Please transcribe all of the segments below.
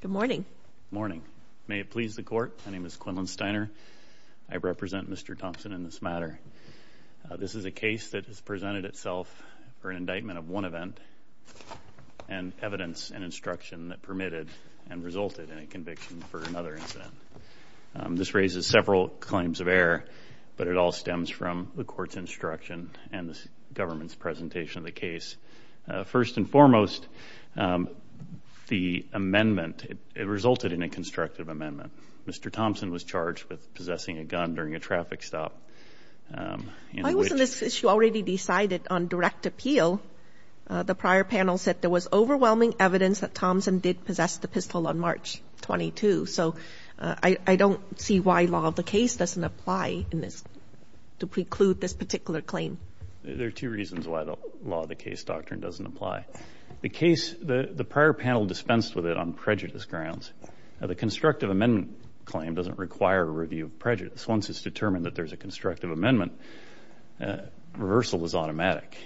Good morning. May it please the Court, my name is Quinlan Steiner. I represent Mr. Thompson in this matter. This is a case that has presented itself for an indictment of one event and evidence and instruction that permitted and resulted in a conviction for another incident. This raises several claims of error, but it all stems from the Court's instruction and the Government's presentation of the case. First and foremost, the amendment resulted in a constructive amendment. Mr. Thompson was charged with possessing a gun during a traffic stop. Why wasn't this issue already decided on direct appeal? The prior panel said there was overwhelming evidence that Thompson did possess the pistol on March 22. So I don't see why law of the case doesn't apply to preclude this particular claim. There are two reasons why the law of the case doctrine doesn't apply. The case, the prior panel dispensed with it on prejudice grounds. The constructive amendment claim doesn't require a review of prejudice. Once it's determined that there's a constructive amendment, reversal is automatic.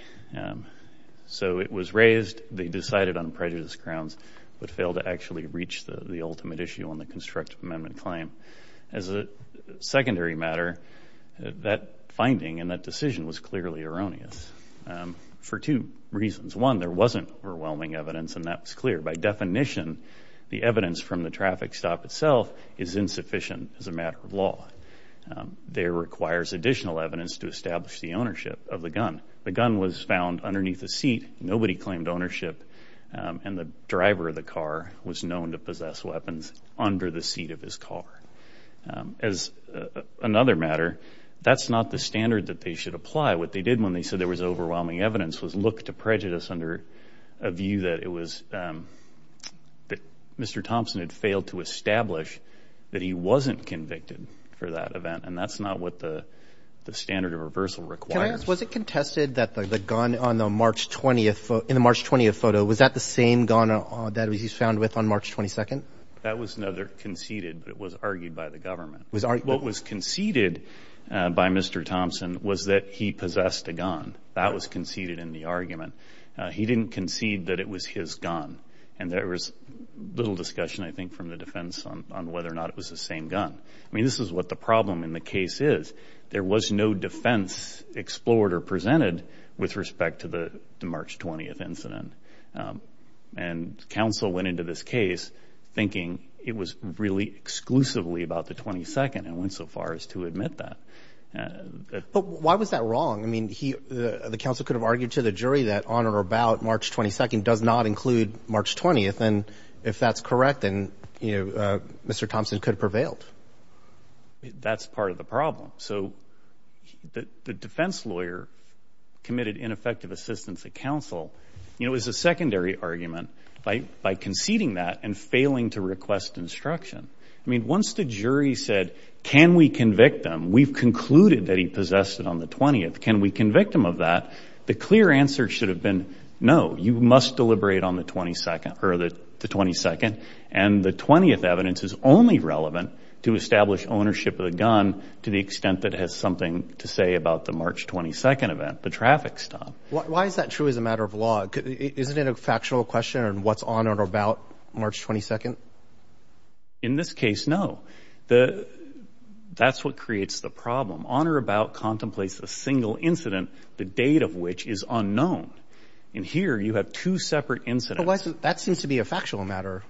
So it was raised, they decided on prejudice grounds, but failed to actually reach the ultimate issue on the constructive amendment claim. As a secondary matter, that finding and that decision was clearly erroneous for two reasons. One, there wasn't overwhelming evidence and that's clear. By definition, the evidence from the traffic stop itself is insufficient as a matter of law. There requires additional evidence to establish the ownership of the gun. The gun was found underneath the seat. Nobody claimed ownership and the driver of the car was known to possess weapons under the seat of his car. As another matter, that's not the standard that they should apply. What they did when they said there was overwhelming evidence was look to prejudice under a view that it was, that Mr. Thompson had failed to establish that he wasn't convicted for that event. And that's not what the standard of reversal requires. Can I ask, was it contested that the gun on the March 20th, in the March 20th photo, was that the same gun that he was found with on March 22nd? That was conceded, but it was argued by the government. What was conceded by Mr. Thompson was that he possessed a gun. That was conceded in the argument. He didn't concede that it was his gun and there was little discussion, I think, from the defense on whether or not it was the same gun. I mean, this is what the problem in the case is. There was no defense explored or presented with respect to the March 20th incident. And counsel went into this case thinking it was really exclusively about the 22nd and went so far as to admit that. But why was that wrong? I mean, the counsel could have argued to the jury that on or about March 22nd does not include March 20th. And if that's correct, then, you know, Mr. Thompson could have prevailed. That's part of the problem. So the defense lawyer committed ineffective assistance at counsel, you know, as a secondary argument, by conceding that and failing to request instruction. I mean, once the jury said, can we convict him, we've concluded that he possessed it on the 20th, can we convict him of that, the clear answer should have been no, you must deliberate on the 22nd. And the 20th evidence is only relevant to establish ownership of the gun to the extent that it has something to say about the March 22nd event, the traffic stop. Why is that true as a matter of law? Isn't it a factual question on what's on or about March 22nd? In this case, no. That's what creates the problem. On or about contemplates a single incident, the date of which is unknown. And here you have two separate incidents. That seems to be a factual matter.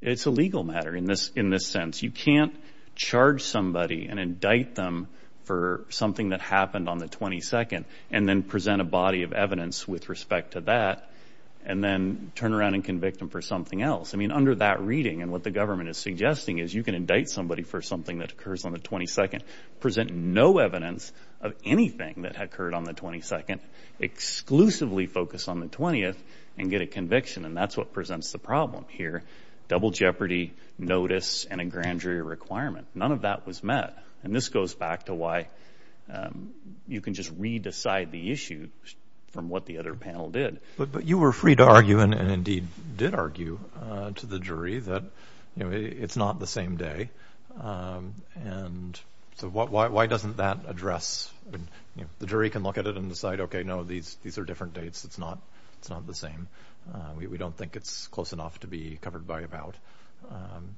It's a legal matter in this sense. You can't charge somebody and indict them for something that happened on the 22nd and then present a body of evidence with respect to that and then turn around and convict them for something else. I mean, under that reading and what the government is suggesting is you can indict somebody for something that occurs on the 22nd, present no evidence of anything that occurred on the 22nd, exclusively focus on the 20th, and get a conviction. And that's what presents the problem here, double jeopardy, notice, and a grand jury requirement. None of that was met. And this goes back to why you can just re-decide the issue from what the other panel did. But you were free to argue and indeed did argue to the jury that it's not the same day. And so why doesn't that address? The jury can look at it and decide, okay, no, these are different dates. It's not the same. We don't think it's close enough to be covered by a bout.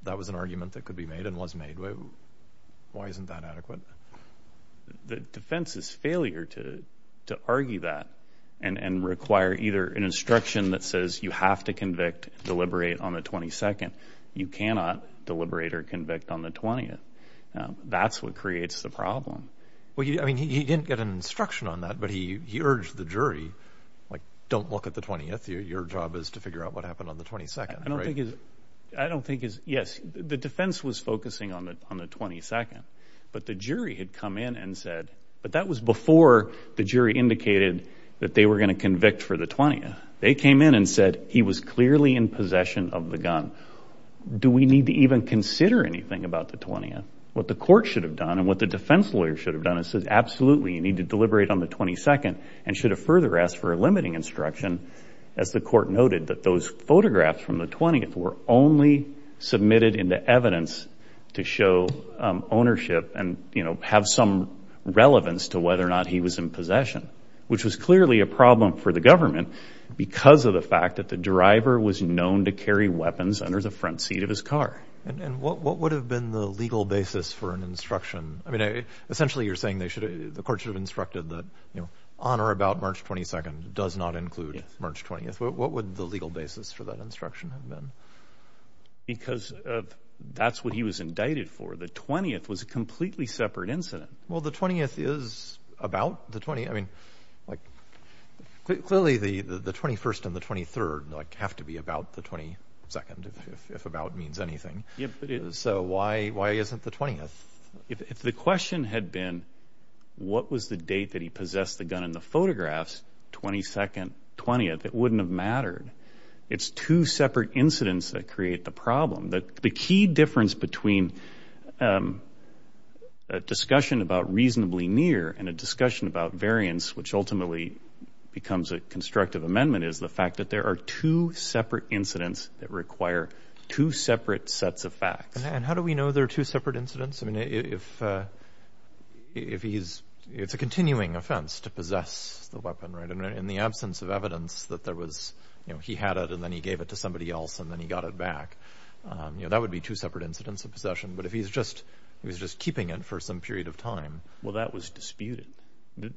That was an argument that could be made and was made. Why isn't that adequate? The defense's failure to argue that and require either an instruction that says you have to convict, deliberate on the 22nd, you cannot deliberate or convict on the 20th. That's what creates the problem. Well, I mean, he didn't get an instruction on that, but he urged the jury, like, don't look at the 20th. Your job is to figure out what happened on the 22nd. Yes, the defense was focusing on the 22nd, but the jury had come in and said, but that was before the jury indicated that they were going to convict for the 20th. They came in and said he was clearly in possession of the gun. Do we need to even consider anything about the 20th? What the court should have done and what the defense lawyer should have done is said, absolutely, you need to deliberate on the 22nd and should have further asked for a limiting instruction. As the court noted, that those photographs from the 20th were only submitted into evidence to show ownership and, you know, have some relevance to whether or not he was in possession, which was clearly a problem for the government because of the fact that the driver was known to carry weapons under the front seat of his car. And what would have been the legal basis for an instruction? I mean, essentially, you're saying the court should have instructed that, you know, on or about March 22nd does not include March 20th. What would the legal basis for that instruction have been? Because that's what he was indicted for. The 20th was a completely separate incident. Well, the 20th is about the 20th. I mean, like, clearly the 21st and the 23rd, like, have to be about the 22nd, if about means anything. So why isn't the 20th? If the question had been what was the date that he possessed the gun in the photographs, 22nd, 20th, it wouldn't have mattered. It's two separate incidents that create the problem. The key difference between a discussion about reasonably near and a discussion about variance, which ultimately becomes a constructive amendment, is the fact that there are two separate incidents that require two separate sets of facts. And how do we know they're two separate incidents? I mean, if he's ‑‑ it's a continuing offense to possess the weapon, right? In the absence of evidence that there was, you know, he had it and then he gave it to somebody else and then he got it back, you know, that would be two separate incidents of possession. But if he's just ‑‑ he was just keeping it for some period of time. Well, that was disputed.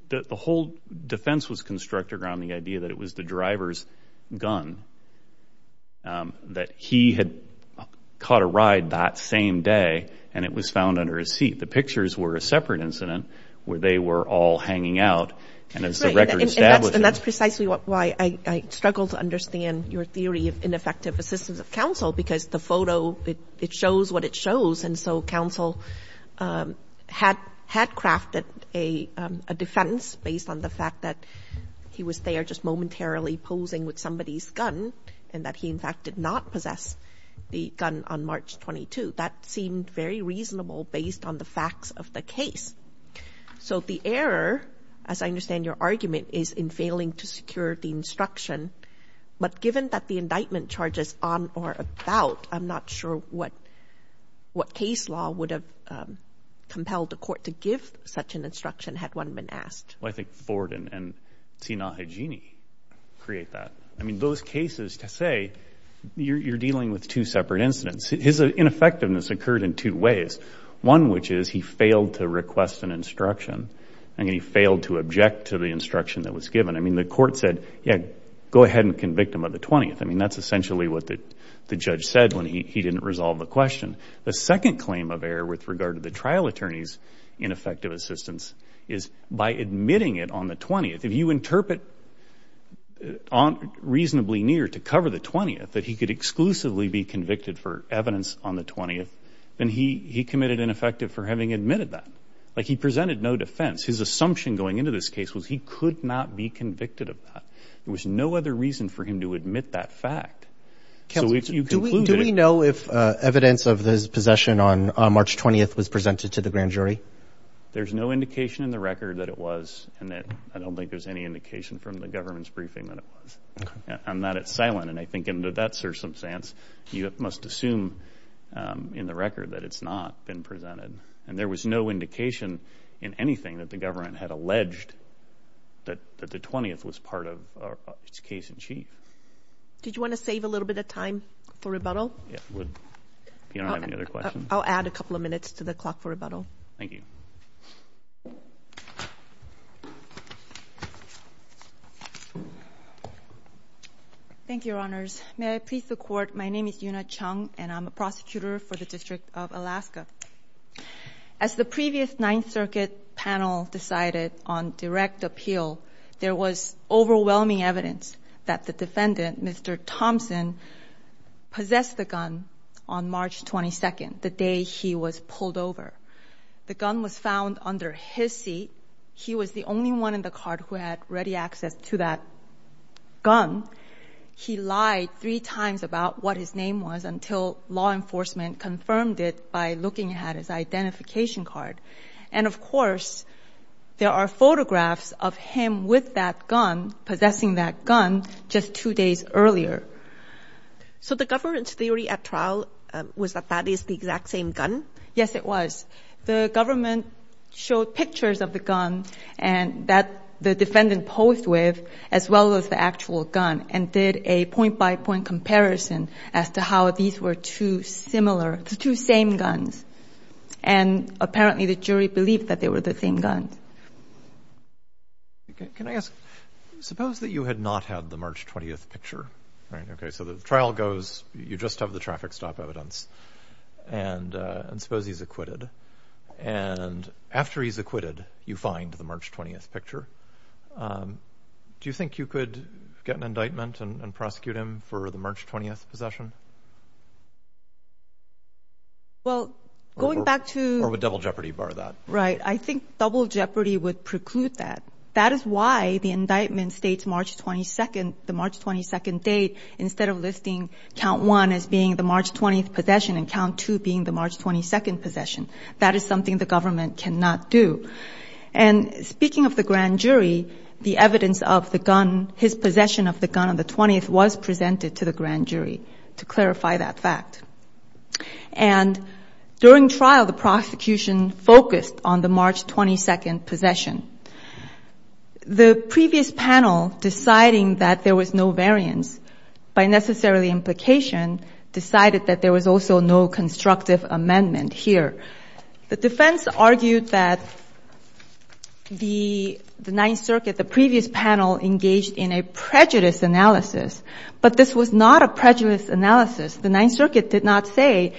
The whole defense was constructed around the idea that it was the driver's gun, that he had caught a ride that same day and it was found under his seat. The pictures were a separate incident where they were all hanging out. And as the record establishes ‑‑ And that's precisely why I struggle to understand your theory of ineffective assistance of counsel because the photo, it shows what it shows. And so counsel had crafted a defense based on the fact that he was there just momentarily posing with somebody's gun and that he, in fact, did not possess the gun on March 22. That seemed very reasonable based on the facts of the case. So the error, as I understand your argument, is in failing to secure the instruction. But given that the indictment charges on or about, I'm not sure what case law would have compelled the court to give such an instruction had one been asked. Well, I think Ford and Sina Hijini create that. I mean, those cases, to say, you're dealing with two separate incidents. His ineffectiveness occurred in two ways. One, which is he failed to request an instruction. I mean, he failed to object to the instruction that was given. I mean, the court said, yeah, go ahead and convict him of the 20th. I mean, that's essentially what the judge said when he didn't resolve the question. The second claim of error with regard to the trial attorney's ineffective assistance is by admitting it on the 20th. If you interpret reasonably near to cover the 20th that he could exclusively be convicted for evidence on the 20th, then he committed ineffective for having admitted that. Like he presented no defense. His assumption going into this case was he could not be convicted of that. There was no other reason for him to admit that fact. Do we know if evidence of his possession on March 20th was presented to the grand jury? There's no indication in the record that it was, and I don't think there's any indication from the government's briefing that it was. I'm not at silent, and I think in that circumstance, you must assume in the record that it's not been presented. And there was no indication in anything that the government had alleged that the 20th was part of its case in chief. Did you want to save a little bit of time for rebuttal? Yeah, I would if you don't have any other questions. I'll add a couple of minutes to the clock for rebuttal. Thank you. Thank you, Your Honors. May I please the court? My name is Yuna Chung, and I'm a prosecutor for the District of Alaska. As the previous Ninth Circuit panel decided on direct appeal, there was overwhelming evidence that the defendant, Mr. Thompson, possessed the gun on March 22nd, the day he was pulled over. The gun was found under his seat. He was the only one in the court who had ready access to that gun. He lied three times about what his name was until law enforcement confirmed it by looking at his identification card. And, of course, there are photographs of him with that gun, possessing that gun, just two days earlier. So the government's theory at trial was that that is the exact same gun? Yes, it was. The government showed pictures of the gun that the defendant posed with, as well as the actual gun, and did a point-by-point comparison as to how these were two similar, the two same guns. And, apparently, the jury believed that they were the same gun. Can I ask, suppose that you had not had the March 20th picture, right? Okay, so the trial goes, you just have the traffic stop evidence, and suppose he's acquitted. And after he's acquitted, you find the March 20th picture. Do you think you could get an indictment and prosecute him for the March 20th possession? Well, going back to— Or would double jeopardy bar that? Right. I think double jeopardy would preclude that. That is why the indictment states March 22nd, the March 22nd date, instead of listing count one as being the March 20th possession and count two being the March 22nd possession. That is something the government cannot do. And speaking of the grand jury, the evidence of the gun, his possession of the gun on the 20th, was presented to the grand jury to clarify that fact. And during trial, the prosecution focused on the March 22nd possession. The previous panel, deciding that there was no variance by necessarily implication, decided that there was also no constructive amendment here. The defense argued that the Ninth Circuit, the previous panel, engaged in a prejudice analysis. But this was not a prejudice analysis. The Ninth Circuit did not say,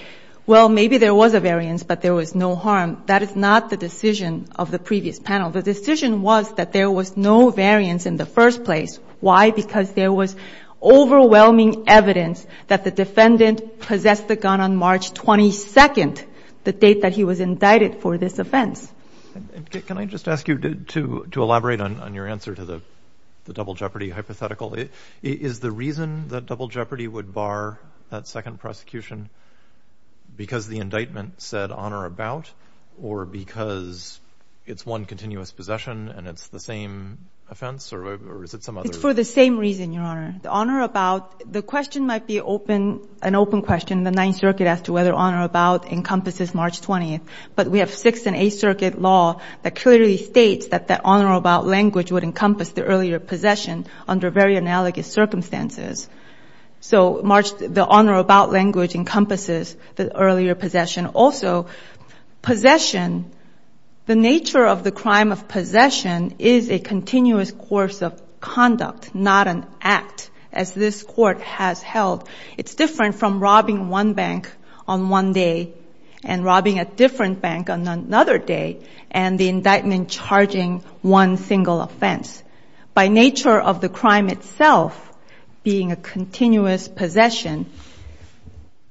well, maybe there was a variance, but there was no harm. That is not the decision of the previous panel. The decision was that there was no variance in the first place. Why? Because there was overwhelming evidence that the defendant possessed the gun on March 22nd, the date that he was indicted for this offense. Can I just ask you to elaborate on your answer to the double jeopardy hypothetical? Is the reason that double jeopardy would bar that second prosecution because the indictment said honor about, or because it's one continuous possession and it's the same offense, or is it some other? It's for the same reason, Your Honor. The honor about, the question might be an open question. The Ninth Circuit asked whether honor about encompasses March 20th. But we have Sixth and Eighth Circuit law that clearly states that the honor about language would encompass the earlier possession under very analogous circumstances. So the honor about language encompasses the earlier possession. Also, possession, the nature of the crime of possession is a continuous course of conduct, not an act, as this Court has held. It's different from robbing one bank on one day and robbing a different bank on another day and the indictment charging one single offense. By nature of the crime itself being a continuous possession,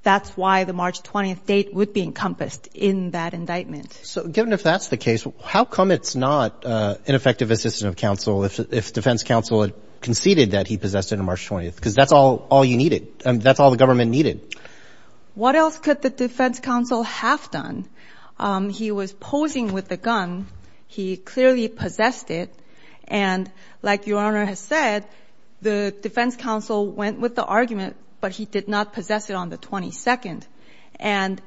that's why the March 20th date would be encompassed in that indictment. So given if that's the case, how come it's not ineffective assistance of counsel if defense counsel conceded that he possessed it on March 20th? Because that's all you needed. That's all the government needed. What else could the defense counsel have done? He was posing with the gun. He clearly possessed it. And like Your Honor has said, the defense counsel went with the argument, but he did not possess it on the 22nd. And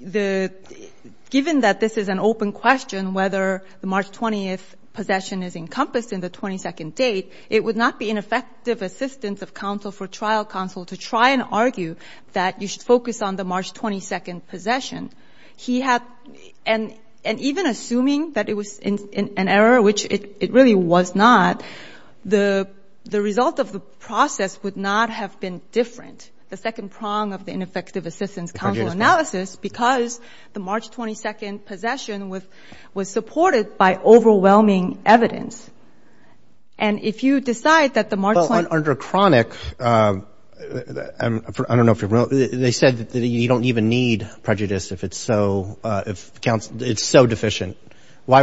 given that this is an open question, whether the March 20th possession is encompassed in the 22nd date, it would not be ineffective assistance of counsel for trial counsel to try and argue that you should focus on the March 22nd possession. He had and even assuming that it was an error, which it really was not, the result of the process would not have been different. The second prong of the ineffective assistance counsel analysis, because the March 22nd possession was supported by overwhelming evidence. And if you decide that the March 20th. Well, under chronic, I don't know if you're real, they said that you don't even need prejudice if it's so deficient. Why?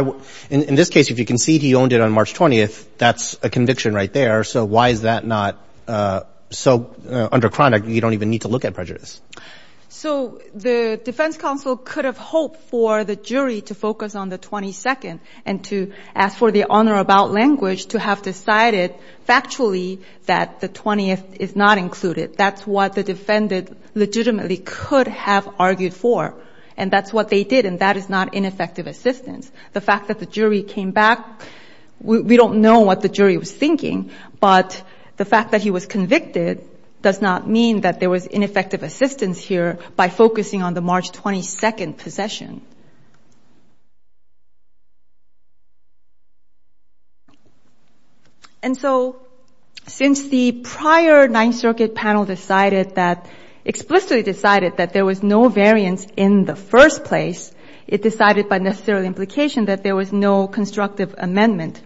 In this case, if you concede he owned it on March 20th, that's a conviction right there. So why is that not? So under chronic, you don't even need to look at prejudice. So the defense counsel could have hoped for the jury to focus on the 22nd and to ask for the honor about language to have decided factually that the 20th is not included. That's what the defendant legitimately could have argued for. And that's what they did. And that is not ineffective assistance. The fact that the jury came back, we don't know what the jury was thinking. But the fact that he was convicted does not mean that there was ineffective assistance here by focusing on the March 22nd possession. And so since the prior Ninth Circuit panel decided that, explicitly decided that there was no variance in the first place, it decided by necessary implication that there was no constructive amendment.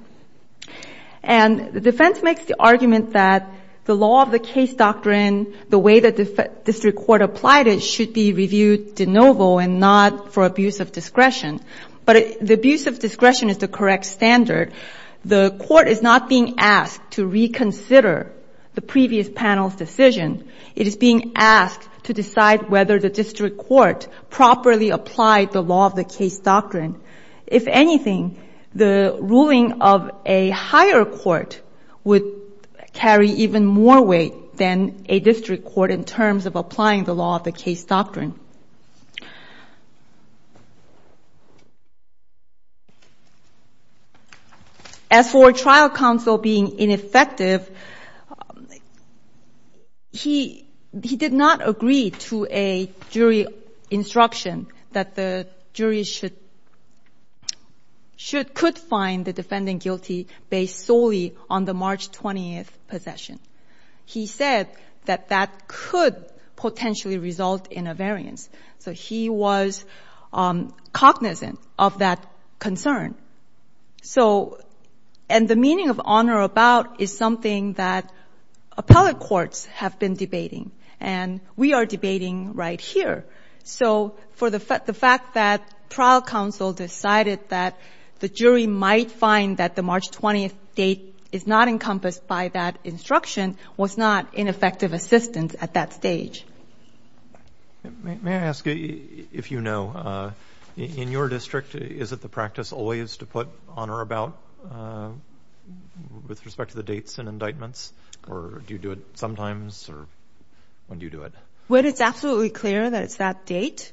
And the defense makes the argument that the law of the case doctrine, the way the district court applied it, should be reviewed de novo and not for abuse of discretion. But the abuse of discretion is the correct standard. The court is not being asked to reconsider the previous panel's decision. It is being asked to decide whether the district court properly applied the law of the case doctrine. If anything, the ruling of a higher court would carry even more weight than a district court in terms of applying the law of the case doctrine. As for trial counsel being ineffective, he did not agree to a jury instruction that the jury could find the defendant guilty based solely on the March 20th possession. He said that that could potentially result in a variance. So he was cognizant of that concern. So, and the meaning of on or about is something that appellate courts have been debating. And we are debating right here. So for the fact that trial counsel decided that the jury might find that the March 20th date is not encompassed by that instruction was not an effective assistance at that stage. May I ask you, if you know, in your district, is it the practice always to put on or about with respect to the dates and indictments? Or do you do it sometimes? Or when do you do it? When it's absolutely clear that it's that date,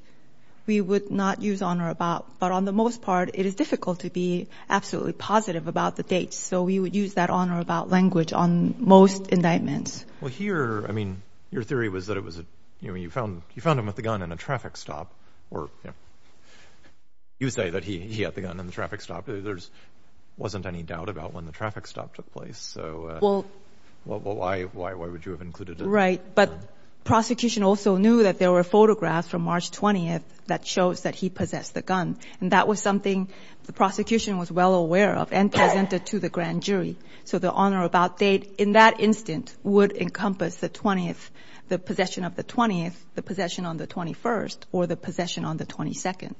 we would not use on or about. But on the most part, it is difficult to be absolutely positive about the date. So we would use that on or about language on most indictments. Well, here, I mean, your theory was that it was, you know, you found him with the gun in a traffic stop. Or you say that he had the gun in the traffic stop. There wasn't any doubt about when the traffic stop took place. So why would you have included that? Right. But prosecution also knew that there were photographs from March 20th that shows that he possessed the gun. And that was something the prosecution was well aware of and presented to the grand jury. So the on or about date in that instant would encompass the 20th, the possession of the 20th, the possession on the 21st, or the possession on the 22nd.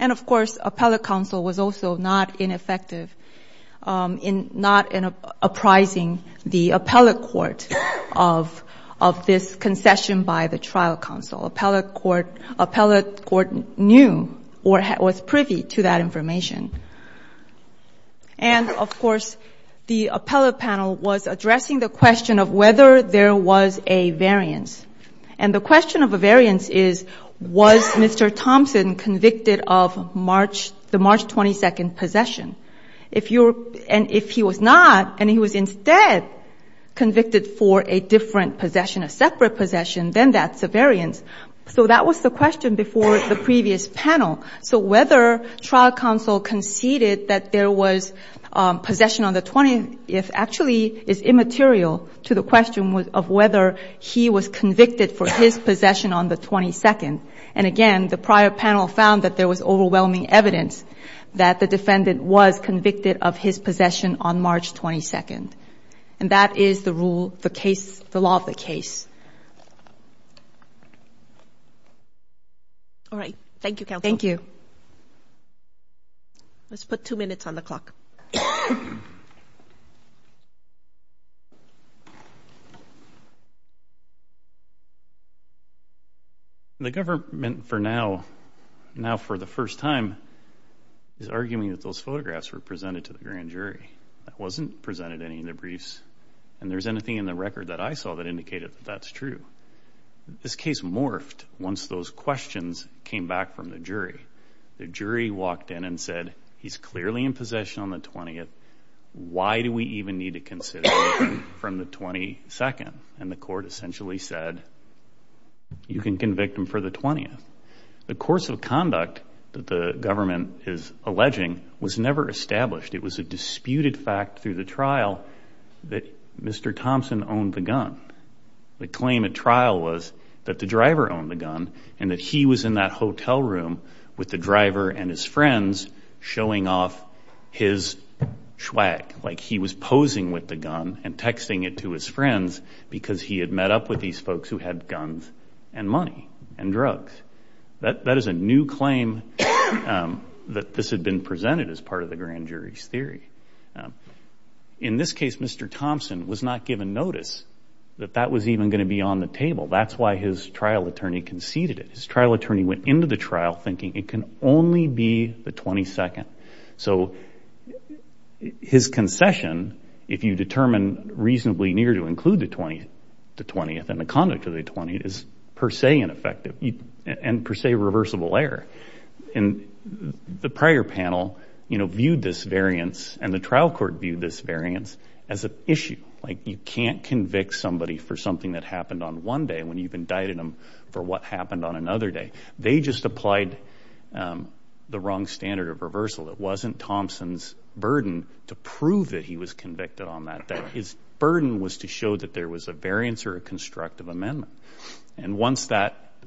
And, of course, appellate counsel was also not ineffective in not apprising the appellate court of this concession by the trial counsel. Appellate court knew or was privy to that information. And, of course, the appellate panel was addressing the question of whether there was a variance. And the question of a variance is, was Mr. Thompson convicted of the March 22nd possession? And if he was not, and he was instead convicted for a different possession, a separate possession, then that's a variance. So that was the question before the previous panel. So whether trial counsel conceded that there was possession on the 20th actually is immaterial to the question of whether he was convicted for his possession on the 22nd. And, again, the prior panel found that there was overwhelming evidence that the defendant was convicted of his possession on March 22nd. And that is the rule, the case, the law of the case. All right. Thank you, counsel. Thank you. The government, for now, now for the first time, is arguing that those photographs were presented to the grand jury. That wasn't presented in any of the briefs, and there's anything in the record that I saw that indicated that that's true. This case morphed once those questions came back from the jury. The jury walked in and said, he's clearly in possession on the 20th. Why do we even need to consider him from the 22nd? And the court essentially said, you can convict him for the 20th. The course of conduct that the government is alleging was never established. It was a disputed fact through the trial that Mr. Thompson owned the gun. The claim at trial was that the driver owned the gun and that he was in that hotel room with the driver and his friends showing off his schwag, like he was posing with the gun and texting it to his friends because he had met up with these folks who had guns and money and drugs. That is a new claim that this had been presented as part of the grand jury's theory. In this case, Mr. Thompson was not given notice that that was even going to be on the table. That's why his trial attorney conceded it. His trial attorney went into the trial thinking it can only be the 22nd. So his concession, if you determine reasonably near to include the 20th and the conduct of the 20th, is per se ineffective. It's per se reversible error. The prior panel viewed this variance and the trial court viewed this variance as an issue. You can't convict somebody for something that happened on one day when you've indicted them for what happened on another day. They just applied the wrong standard of reversal. It wasn't Thompson's burden to prove that he was convicted on that day. His burden was to show that there was a variance or a constructive amendment.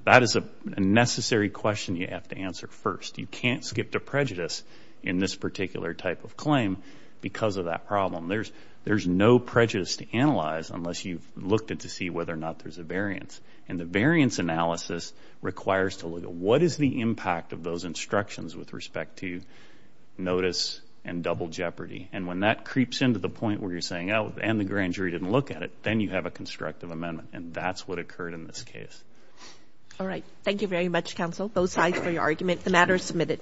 That is a necessary question you have to answer first. You can't skip the prejudice in this particular type of claim because of that problem. There's no prejudice to analyze unless you've looked to see whether or not there's a variance. The variance analysis requires to look at what is the impact of those instructions with respect to notice and double jeopardy. And when that creeps into the point where you're saying, oh, and the grand jury didn't look at it, then you have a constructive amendment. And that's what occurred in this case. All right. Thank you very much, counsel, both sides for your argument. The matter is submitted.